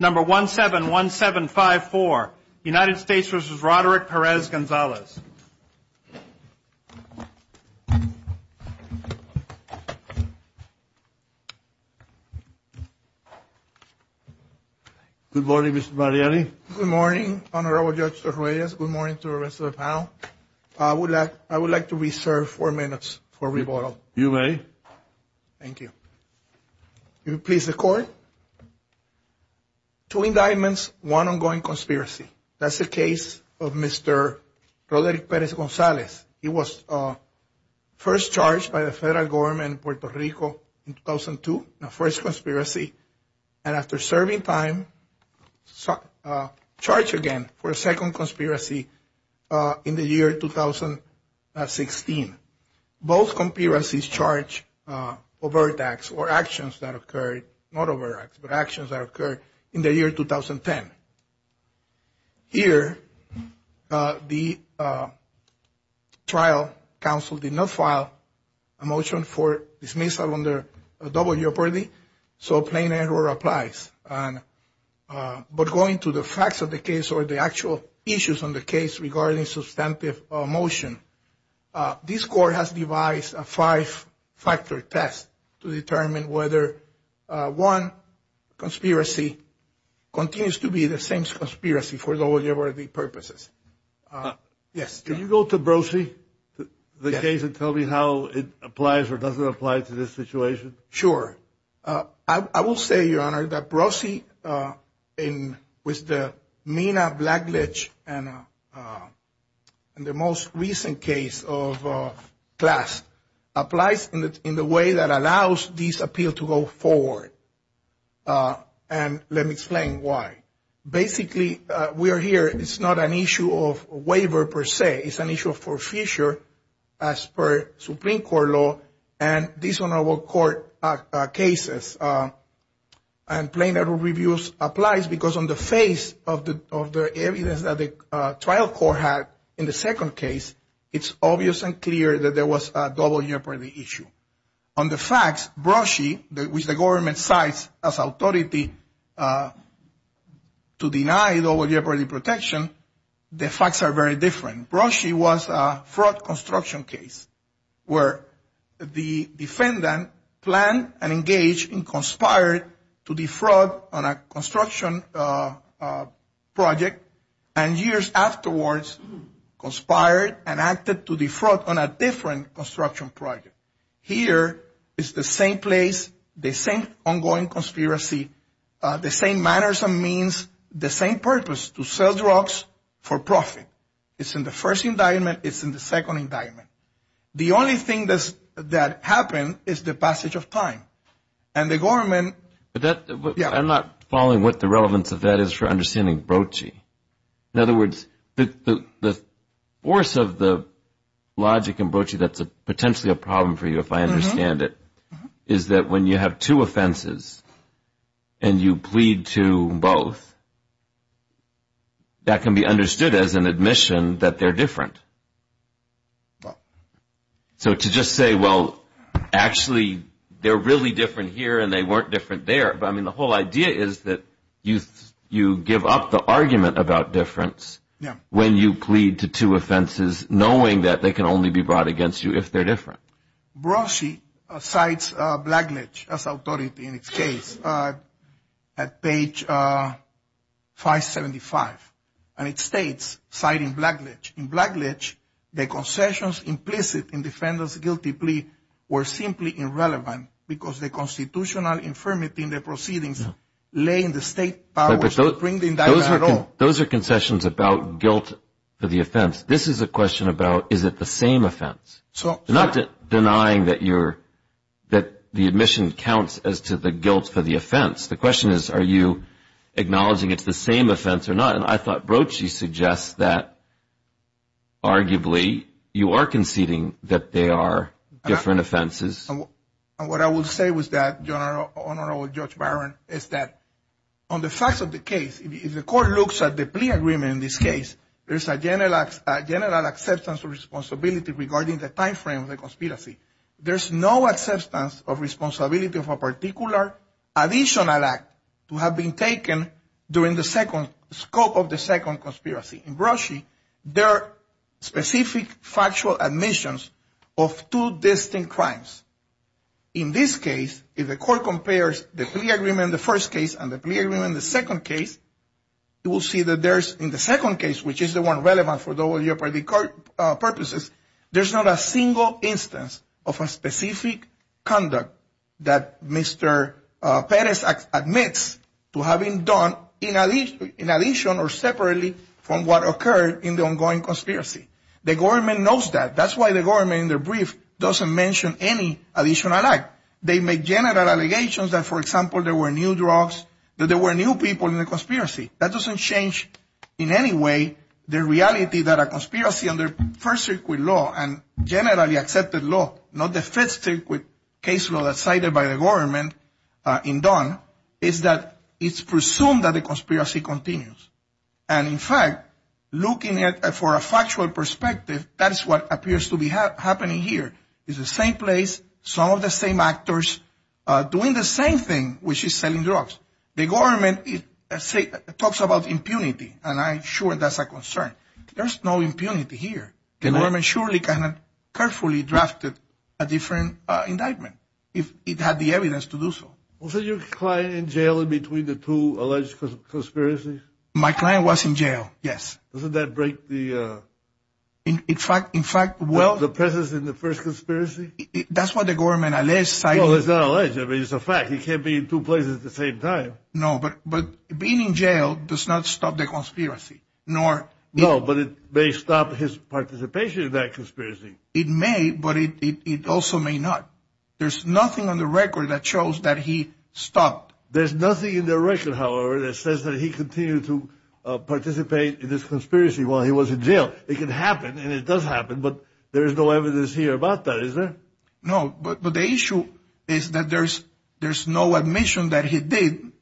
Number 171754, United States v. Roderick Perez-Gonzalez. Good morning, Mr. Marrelli. Good morning, Honorable Judge Torres. Good morning to the rest of the panel. I would like to reserve four minutes for rebuttal. You may. Thank you. If you please, the court. Two indictments, one ongoing conspiracy. That's the case of Mr. Roderick Perez-Gonzalez. He was first charged by the federal government in Puerto Rico in 2002, the first conspiracy, and after serving time, charged again for a second conspiracy in the year 2016. Both conspiracies charge overt acts or actions that occurred, not overt acts, but actions that occurred in the year 2010. Here, the trial counsel did not file a motion for dismissal under a double-year pardee, so plain error applies. But going to the facts of the case or the actual issues on the case regarding substantive motion, this court has devised a five-factor test to determine whether one conspiracy continues to be the same conspiracy for double-year pardee purposes. Yes? Can you go to Brosee, the case, and tell me how it applies or doesn't apply to this situation? Sure. I will say, Your Honor, that Brosee, with the Mina-Blackledge and the most recent case of Clast, applies in the way that allows this appeal to go forward. And let me explain why. Basically, we are here, it's not an issue of waiver per se, it's an issue for future as per Supreme Court law and these honorable court cases. And plain error reviews applies because on the face of the evidence that the trial court had in the second case, it's obvious and clear that there was a double-year pardee issue. On the facts, Brosee, which the government cites as authority to deny double-year pardee protection, the facts are very different. Brosee was a fraud construction case where the defendant planned and engaged and conspired to defraud on a construction project and years afterwards conspired and acted to defraud on a different construction project. Here, it's the same place, the same ongoing conspiracy, the same manners and means, the same purpose, to sell drugs for profit. It's in the first indictment, it's in the second indictment. The only thing that happened is the passage of time and the government... But I'm not following what the relevance of that is for understanding Brosee. In other words, the force of the logic in Brosee that's potentially a problem for you if I understand it, is that when you have two offenses and you plead to both, that can be understood as an admission that they're different. So to just say, well, actually they're really different here and they weren't different there, but I mean the whole idea is that you give up the argument about difference when you plead to two offenses knowing that they can only be brought against you if they're different. Brosee cites Blackledge as authority in its case at page 575, and it states, citing Blackledge, in Blackledge, the concessions implicit in defendant's guilty plea were simply irrelevant because the constitutional infirmity in the proceedings lay in the state power to bring the indictment at all. Those are concessions about guilt for the offense. This is a question about, is it the same offense? Not denying that the admission counts as to the guilt for the offense. The question is, are you acknowledging it's the same offense or not? And I thought Brosee suggests that arguably you are conceding that they are different offenses. And what I would say was that, Honorable Judge Byron, is that on the facts of the case, if the court looks at the plea agreement in this case, there's a general acceptance of responsibility regarding the time frame of the conspiracy. There's no acceptance of responsibility of a particular additional act to have been taken during the scope of the second conspiracy. In Brosee, there are specific factual admissions of two distinct crimes. In this case, if the court compares the plea agreement in the first case and the plea agreement in the second case, you will see that in the second case, which is the one for the WLPD court purposes, there's not a single instance of a specific conduct that Mr. Perez admits to having done in addition or separately from what occurred in the ongoing conspiracy. The government knows that. That's why the government, in their brief, doesn't mention any additional act. They make general allegations that, for example, there were new drugs, that there were new people in the conspiracy. That doesn't change in any way the reality that a conspiracy under First Circuit law and generally accepted law, not the Fifth Circuit case law that's cited by the government in Dunn, is that it's presumed that the conspiracy continues. And in fact, looking at it for a factual perspective, that is what appears to be happening here. It's the same place, some of the same actors doing the same thing, which is selling drugs. The government talks about impunity, and I'm sure that's a concern. There's no impunity here. The government surely can have carefully drafted a different indictment if it had the evidence to do so. Was your client in jail in between the two alleged conspiracies? My client was in jail, yes. Doesn't that break the presence in the first conspiracy? That's what the government alleged. Well, it's not alleged. I mean, it's a fact. He can't be in two places at the same time. No, but being in jail does not stop the conspiracy, nor... No, but it may stop his participation in that conspiracy. It may, but it also may not. There's nothing on the record that shows that he stopped. There's nothing in the record, however, that says that he continued to participate in this conspiracy while he was in jail. It can happen, and it does happen, but there is no evidence here about that, is there? No, but the issue is that there's no admission that he did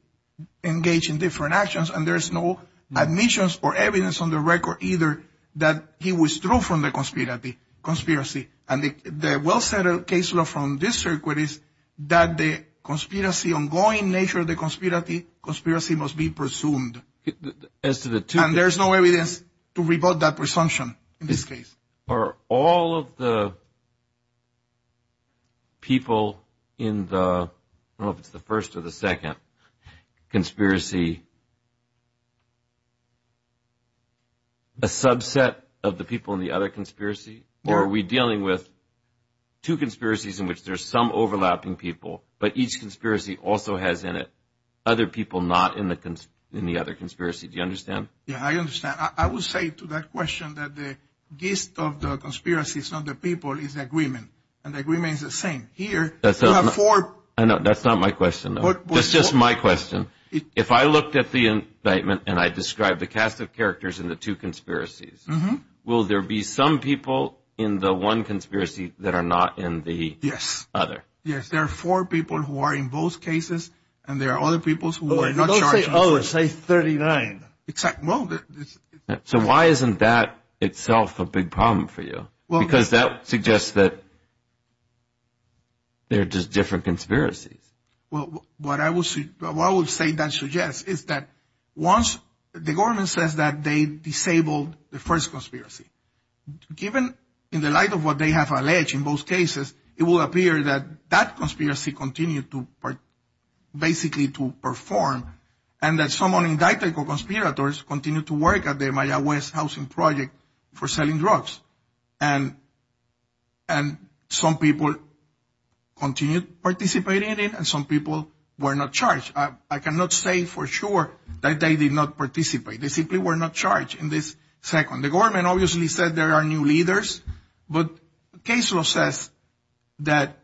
engage in different actions, and there's no admissions or evidence on the record either that he withdrew from the conspiracy. And the well-settled case law from this circuit is that the conspiracy, ongoing nature of the conspiracy, conspiracy must be presumed. And there's no evidence to rebut that presumption in this case. Are all of the people in the, I don't know if it's the first or the second conspiracy, a subset of the people in the other conspiracy? Or are we dealing with two conspiracies in which there's some overlapping people, but each conspiracy also has in it other people not in the other conspiracy? Do you understand? Yeah, I understand. I will say to that question that the gist of the conspiracy is not the people, it's the agreement, and the agreement is the same. Here, you have four. I know, that's not my question, though. That's just my question. If I looked at the indictment and I described the cast of characters in the two conspiracies, will there be some people in the one conspiracy that are not in the other? Yes, there are four people who are in both cases, and there are other people who are not charged. Oh, say 39. Exactly. So why isn't that itself a big problem for you? Because that suggests that they're just different conspiracies. Well, what I would say that suggests is that once the government says that they disabled the first conspiracy, given in the light of what they have alleged in both cases, it will appear that that conspiracy continued to basically to perform, and that someone indicted for conspirators continued to work at the Maya West housing project for selling drugs. And some people continued participating in it, and some people were not charged. I cannot say for sure that they did not participate. They simply were not charged in this second. The government obviously said there are new leaders, but the case law says that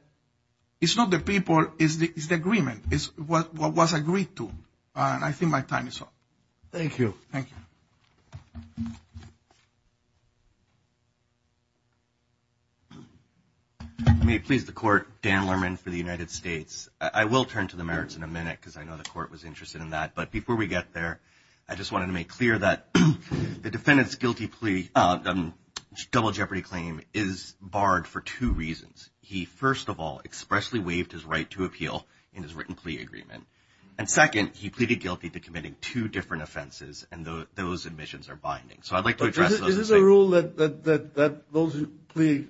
it's not the people, it's the agreement. It's what was agreed to, and I think my time is up. Thank you. Thank you. I may please the court, Dan Lerman for the United States. I will turn to the merits in a minute because I know the court was interested in that. But before we get there, I just wanted to make clear that the defendant's guilty plea, double jeopardy claim is barred for two reasons. He, first of all, expressly waived his right to appeal in his written plea agreement. And second, he pleaded guilty to committing two different offenses, and those admissions are binding. So I'd like to address those. Is this a rule that those plea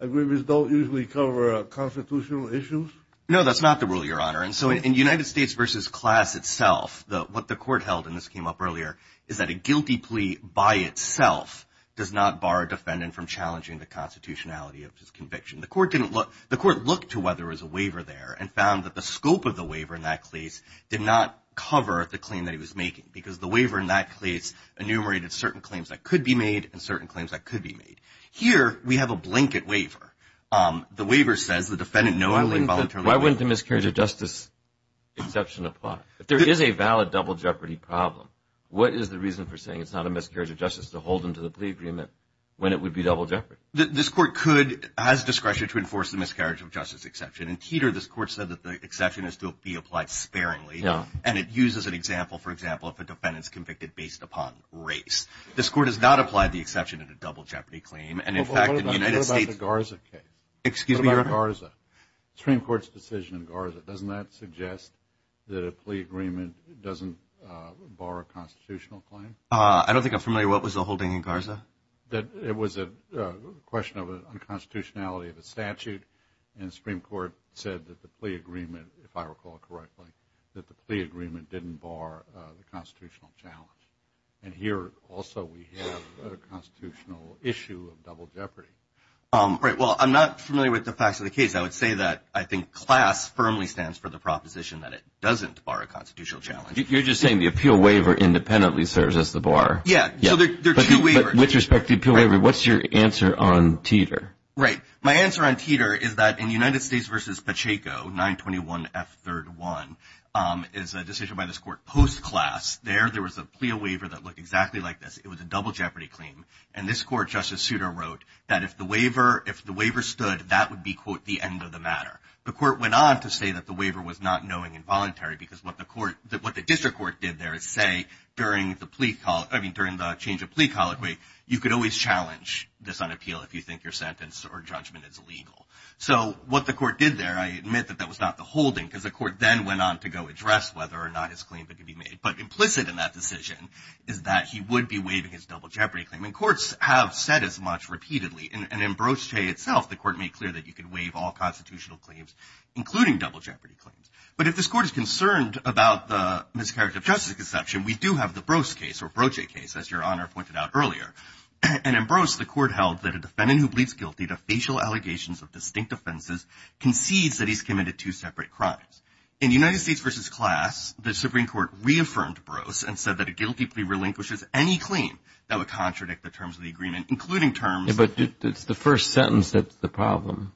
agreements don't usually cover constitutional issues? No, that's not the rule, Your Honor. And so in United States versus class itself, what the court held, and this came up earlier, is that a guilty plea by itself does not bar a defendant from challenging the constitutionality of his conviction. The court didn't look, the court looked to whether there was a waiver there and found that the scope of the waiver in that case did not cover the claim that he was making because the waiver in that case enumerated certain claims that could be made and certain claims that could be made. Here, we have a blanket waiver. The waiver says the defendant knowingly voluntarily... Why wouldn't the miscarriage of justice exception apply? If there is a valid double jeopardy problem, what is the reason for saying it's not a miscarriage of justice to hold him to the plea agreement when it would be double jeopardy? This court could, has discretion to enforce the miscarriage of justice exception. In Teeter, this court said that the exception is to be applied sparingly, and it uses an example, for example, if a defendant is convicted based upon race. This court has not applied the exception in a double jeopardy claim, and in fact, in the United States... What about the Garza case? Excuse me, Your Honor? What about Garza? Supreme Court's decision in Garza, doesn't that suggest that a plea agreement doesn't I don't think I'm familiar. What was the holding in Garza? That it was a question of unconstitutionality of a statute, and the Supreme Court said that the plea agreement, if I recall correctly, that the plea agreement didn't bar the constitutional challenge. And here, also, we have a constitutional issue of double jeopardy. Right, well, I'm not familiar with the facts of the case. I would say that I think class firmly stands for the proposition that it doesn't bar a constitutional challenge. You're just saying the appeal waiver independently serves as the bar. Yeah, so there are two waivers. With respect to the appeal waiver, what's your answer on Teeter? Right. My answer on Teeter is that in United States v. Pacheco, 921F31, is a decision by this court post-class. There, there was a plea waiver that looked exactly like this. It was a double jeopardy claim. And this court, Justice Souter, wrote that if the waiver stood, that would be, quote, the end of the matter. The court went on to say that the waiver was not knowing involuntary, because what the change of plea colloquy, you could always challenge this on appeal if you think your sentence or judgment is illegal. So what the court did there, I admit that that was not the holding, because the court then went on to go address whether or not his claim could be made. But implicit in that decision is that he would be waiving his double jeopardy claim. And courts have said as much repeatedly. And in Broche itself, the court made clear that you could waive all constitutional claims, including double jeopardy claims. But if this court is concerned about the miscarriage of justice exception, we do have the And in Broche, the court held that a defendant who pleads guilty to facial allegations of distinct offenses concedes that he's committed two separate crimes. In United States v. Class, the Supreme Court reaffirmed Broche and said that a guilty plea relinquishes any claim that would contradict the terms of the agreement, including terms But it's the first sentence that's the problem.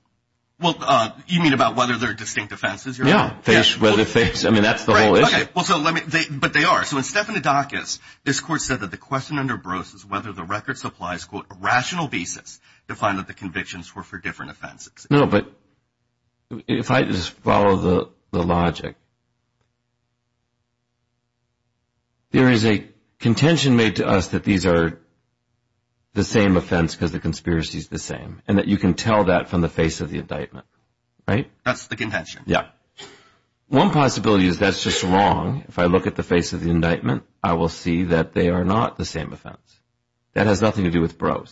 Well, you mean about whether they're distinct offenses? Yeah, whether they're fakes. I mean, that's the whole issue. Well, so let me, but they are. So in Stephanodakis, this court said that the question under Broche is whether the record supplies, quote, a rational basis to find that the convictions were for different offenses. No, but if I just follow the logic, there is a contention made to us that these are the same offense because the conspiracy is the same and that you can tell that from the face of the indictment, right? That's the contention. Yeah. One possibility is that's just wrong. If I look at the face of the indictment, I will see that they are not the same offense. That has nothing to do with Broche.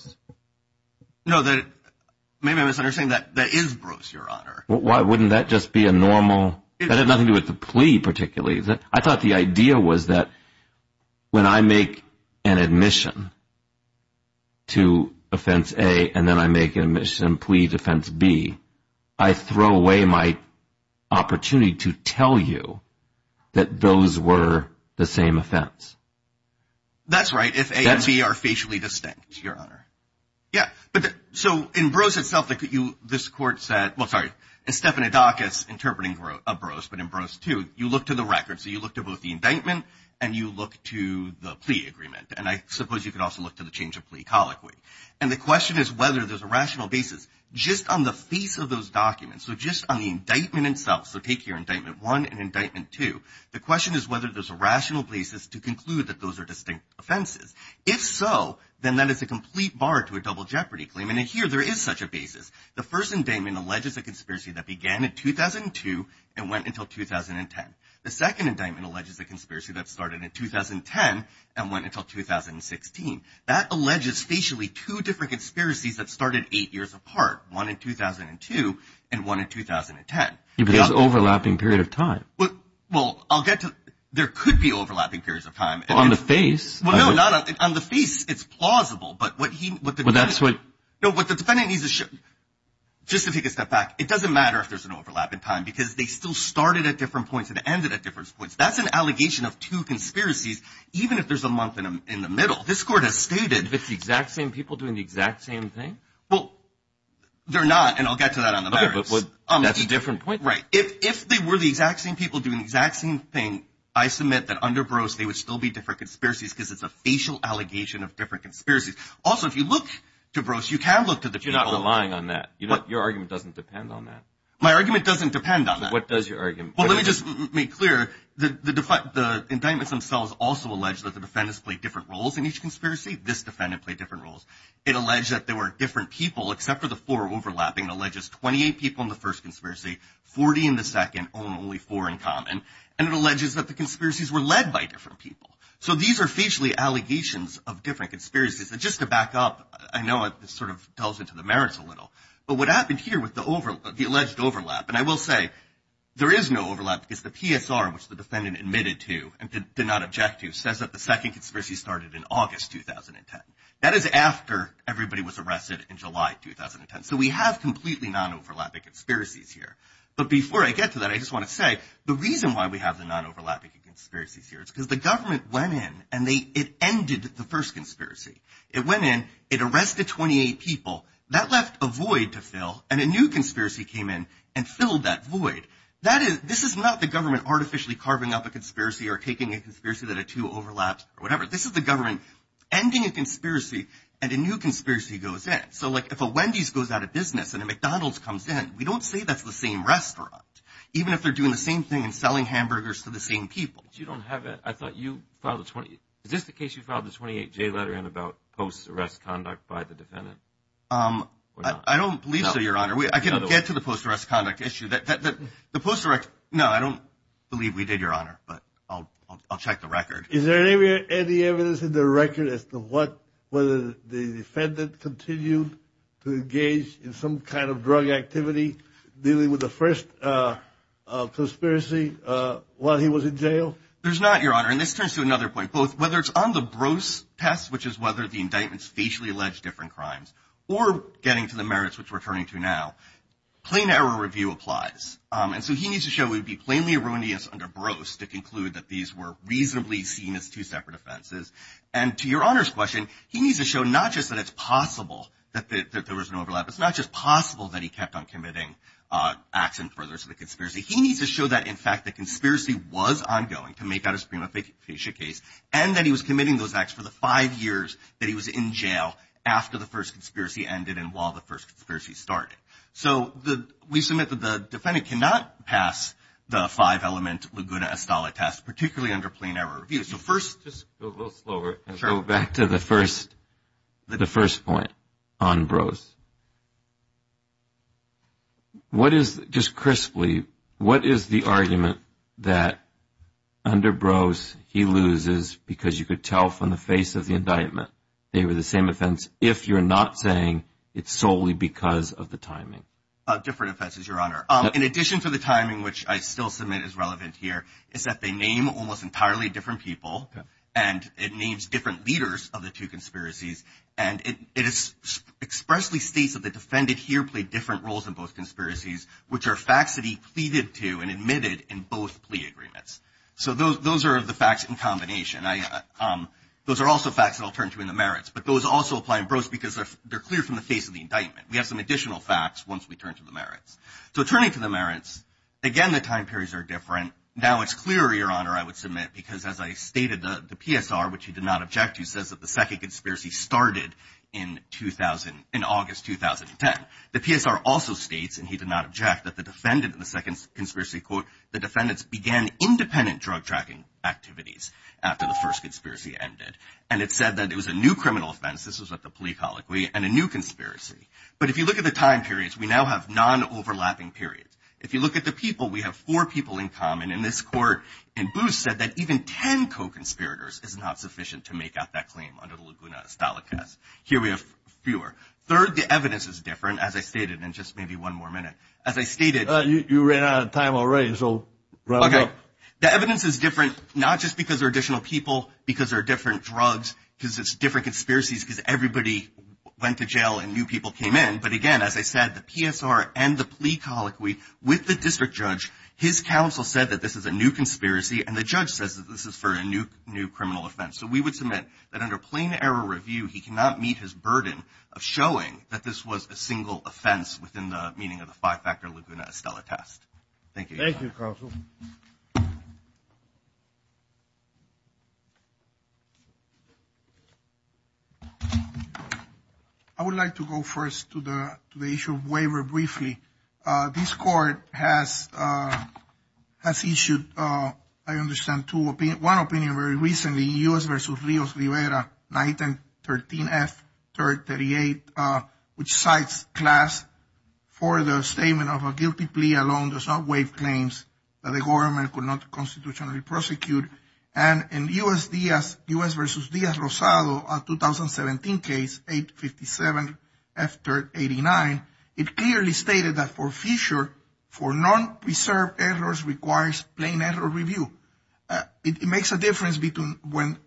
No, maybe I'm misunderstanding that. That is Broche, Your Honor. Why wouldn't that just be a normal? That had nothing to do with the plea particularly. I thought the idea was that when I make an admission to offense A and then I make an admission to offense B, I throw away my opportunity to tell you that those were the same offense. That's right. If A and B are facially distinct, Your Honor. Yeah, but so in Broche itself, this court said, well, sorry, in Stephanodakis interpreting a Broche, but in Broche too, you look to the record. So you look to both the indictment and you look to the plea agreement. And I suppose you could also look to the change of plea colloquy. And the question is whether there's a rational basis just on the face of those documents. So just on the indictment itself. So take your indictment one and indictment two. The question is whether there's a rational basis to conclude that those are distinct offenses. If so, then that is a complete bar to a double jeopardy claim. And here there is such a basis. The first indictment alleges a conspiracy that began in 2002 and went until 2010. The second indictment alleges a conspiracy that started in 2010 and went until 2016. That alleges facially two different conspiracies that started eight years apart, one in 2002 and one in 2010. It was an overlapping period of time. But well, I'll get to there could be overlapping periods of time on the face. Well, no, not on the face. It's plausible. But what he what that's what the defendant needs to show just to take a step back. It doesn't matter if there's an overlap in time because they still started at different points and ended at different points. That's an allegation of two conspiracies, even if there's a month in the middle. This court has stated it's the exact same people doing the exact same thing. Well, they're not. And I'll get to that on a different point. Right. If they were the exact same people doing the exact same thing, I submit that under gross, they would still be different conspiracies because it's a facial allegation of different conspiracies. Also, if you look to gross, you can look to the you're not relying on that. You know, your argument doesn't depend on that. My argument doesn't depend on what does your argument? Well, let me just make clear that the the indictments themselves also allege that the different roles in each conspiracy. This defendant played different roles. It alleged that there were different people except for the four overlapping alleges 28 people in the first conspiracy, 40 in the second only four in common. And it alleges that the conspiracies were led by different people. So these are facially allegations of different conspiracies. Just to back up, I know it sort of delves into the merits a little. But what happened here with the over the alleged overlap, and I will say there is no overlap because the PSR, which the defendant admitted to and did not object to, says that the second conspiracy started in August 2010. That is after everybody was arrested in July 2010. So we have completely non-overlapping conspiracies here. But before I get to that, I just want to say the reason why we have the non-overlapping conspiracies here is because the government went in and they it ended the first conspiracy. It went in, it arrested 28 people that left a void to fill, and a new conspiracy came in and filled that void. That is this is not the government artificially carving up a conspiracy or taking a conspiracy that a two overlaps or whatever. This is the government ending a conspiracy and a new conspiracy goes in. So like if a Wendy's goes out of business and a McDonald's comes in, we don't say that's the same restaurant, even if they're doing the same thing and selling hamburgers to the same people. But you don't have it. I thought you filed a 20. Is this the case you filed the 28 J letter in about post arrest conduct by the defendant? I don't believe so, your honor. I can get to the post arrest conduct issue that the post direct. No, I don't believe we did, your honor. But I'll check the record. Is there any evidence in the record as to what whether the defendant continued to engage in some kind of drug activity dealing with the first conspiracy while he was in jail? There's not, your honor. And this turns to another point, both whether it's on the gross test, which is whether the indictments facially alleged different crimes or getting to the merits, which we're turning to now. Plain error review applies. And so he needs to show we'd be plainly erroneous under gross to conclude that these were reasonably seen as two separate offenses. And to your honor's question, he needs to show not just that it's possible that there was an overlap. It's not just possible that he kept on committing acts and furthers of the conspiracy. He needs to show that, in fact, the conspiracy was ongoing to make out a supreme official case and that he was committing those acts for the five years that he was in jail after the first conspiracy ended and while the first conspiracy started. So we submit that the defendant cannot pass the five element Laguna Estella test, particularly under plain error review. So first, just go a little slower and go back to the first point on gross. What is, just crisply, what is the argument that under gross he loses because you could tell from the face of the indictment they were the same offense if you're not saying it's solely because of the timing? Different offenses, your honor. In addition to the timing, which I still submit is relevant here, is that they name almost entirely different people and it names different leaders of the two conspiracies. And it expressly states that the defendant here played different roles in both conspiracies, which are facts that he pleaded to and admitted in both plea agreements. So those are the facts in combination. Those are also facts that I'll turn to in the merits. But those also apply in gross because they're clear from the face of the indictment. We have some additional facts once we turn to the merits. So turning to the merits, again, the time periods are different. Now it's clear, your honor, I would submit, because as I stated, the PSR, which he did not object to, says that the second conspiracy started in August 2010. The PSR also states, and he did not object, that the defendant in the second conspiracy, quote, the defendants began independent drug tracking activities after the first conspiracy ended. And it said that it was a new criminal offense, this was at the plea colloquy, and a new conspiracy. But if you look at the time periods, we now have non-overlapping periods. If you look at the people, we have four people in common. And this court in Booth said that even 10 co-conspirators is not sufficient to make out that claim under the Laguna Estalicas. Here we have fewer. Third, the evidence is different. As I stated, and just maybe one more minute, as I stated- You ran out of time already, so round up. The evidence is different, not just because they're additional people, because they're different drugs, because it's different conspiracies, because everybody went to jail and new people came in. But again, as I said, the PSR and the plea colloquy, with the district judge, his counsel said that this is a new conspiracy, and the judge says that this is for a new criminal offense. So we would submit that under plain error review, he cannot meet his burden of showing that this was a single offense within the meaning of the five-factor Laguna Estela test. Thank you. Thank you, counsel. I would like to go first to the issue of waiver briefly. This court has issued, I understand, one opinion very recently, U.S. versus Rios-Rivera, 910-13F-38, which cites class for the statement of a guilty plea alone does not waive claims that the government could not constitutionally prosecute. And in U.S. versus Diaz-Rosado, a 2017 case, 857-F-389, it clearly stated that forfeiture for non-preserved errors requires plain error review. It makes a difference between when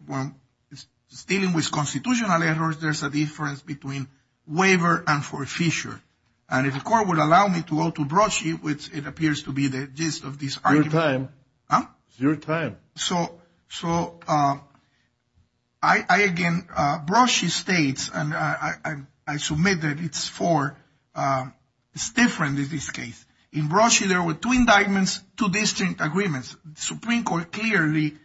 dealing with constitutional errors, there's a difference between waiver and forfeiture. And if the court would allow me to go to Brocci, which it appears to be the gist of this argument. It's your time. Huh? It's your time. So I, again, Brocci states, and I submit that it's for, it's different in this case. In Brocci, there were two indictments, two distinct agreements. Supreme Court clearly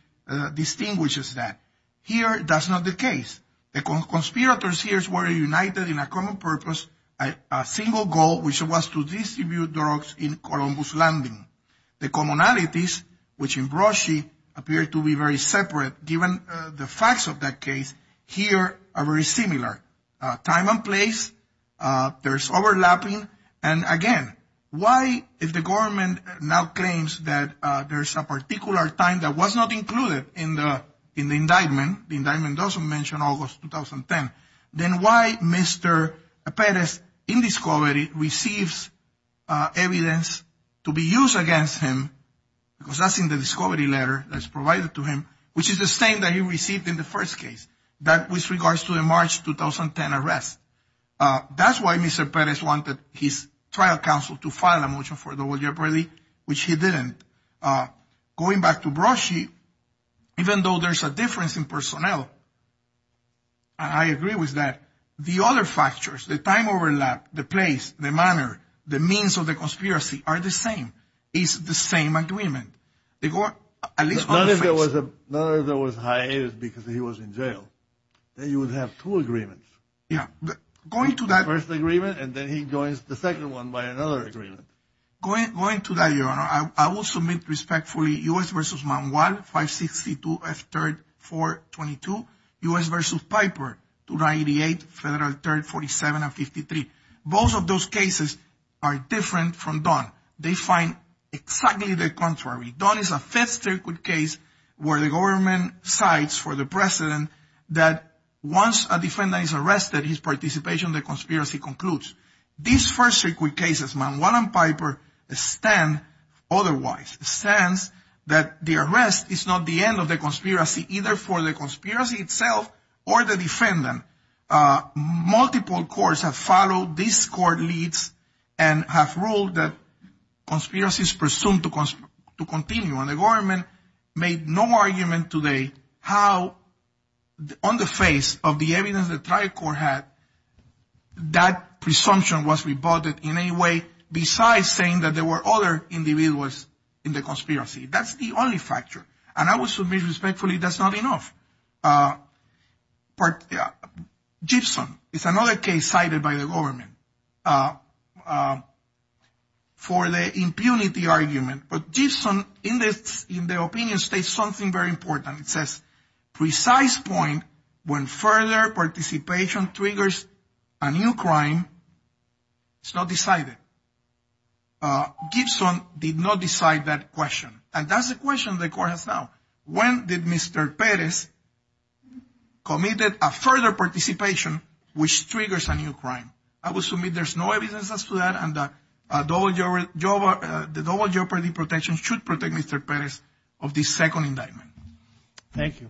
distinguishes that. Here, that's not the case. The conspirators here were united in a common purpose, a single goal, which was to distribute drugs in Columbus Landing. The commonalities, which in Brocci appear to be very separate, given the facts of that case, here are very similar. Time and place, there's overlapping. And again, why, if the government now claims that there's a particular time that was not included in the indictment, the indictment doesn't mention August 2010, then why Mr. Perez wanted evidence to be used against him, because that's in the discovery letter that's provided to him, which is the same that he received in the first case, that with regards to the March 2010 arrest. That's why Mr. Perez wanted his trial counsel to file a motion for double jeopardy, which he didn't. Going back to Brocci, even though there's a difference in personnel, and I agree with that, the other factors, the time overlap, the place, the manner, the means of the conspiracy are the same. It's the same agreement. They go at least on the face. Not if there was a hiatus because he was in jail. Then you would have two agreements. Yeah. Going to that first agreement, and then he joins the second one by another agreement. Going to that, Your Honor, I will submit respectfully U.S. v. Manuel 562 F3 422, U.S. v. Piper 2988 F3 47 and 53. Both of those cases are different from Don. They find exactly the contrary. Don is a fifth circuit case where the government cites for the precedent that once a defendant is arrested, his participation in the conspiracy concludes. These first circuit cases, Manuel and Piper stand otherwise. It stands that the arrest is not the end of the conspiracy, either for the conspiracy itself or the defendant. Multiple courts have followed these court leads and have ruled that conspiracy is presumed to continue. And the government made no argument today how, on the face of the evidence the trial court had, that presumption was rebutted in any way besides saying that there were other individuals in the conspiracy. That's the only factor. And I will submit respectfully that's not enough. But Gibson is another case cited by the government for the impunity argument. But Gibson in the opinion states something very important. It says precise point when further participation triggers a new crime is not decided. Gibson did not decide that question. And that's the question the court has now. When did Mr. Pérez committed a further participation which triggers a new crime? I will submit there's no evidence as to that. And the double jeopardy protection should protect Mr. Pérez of the second indictment. Thank you.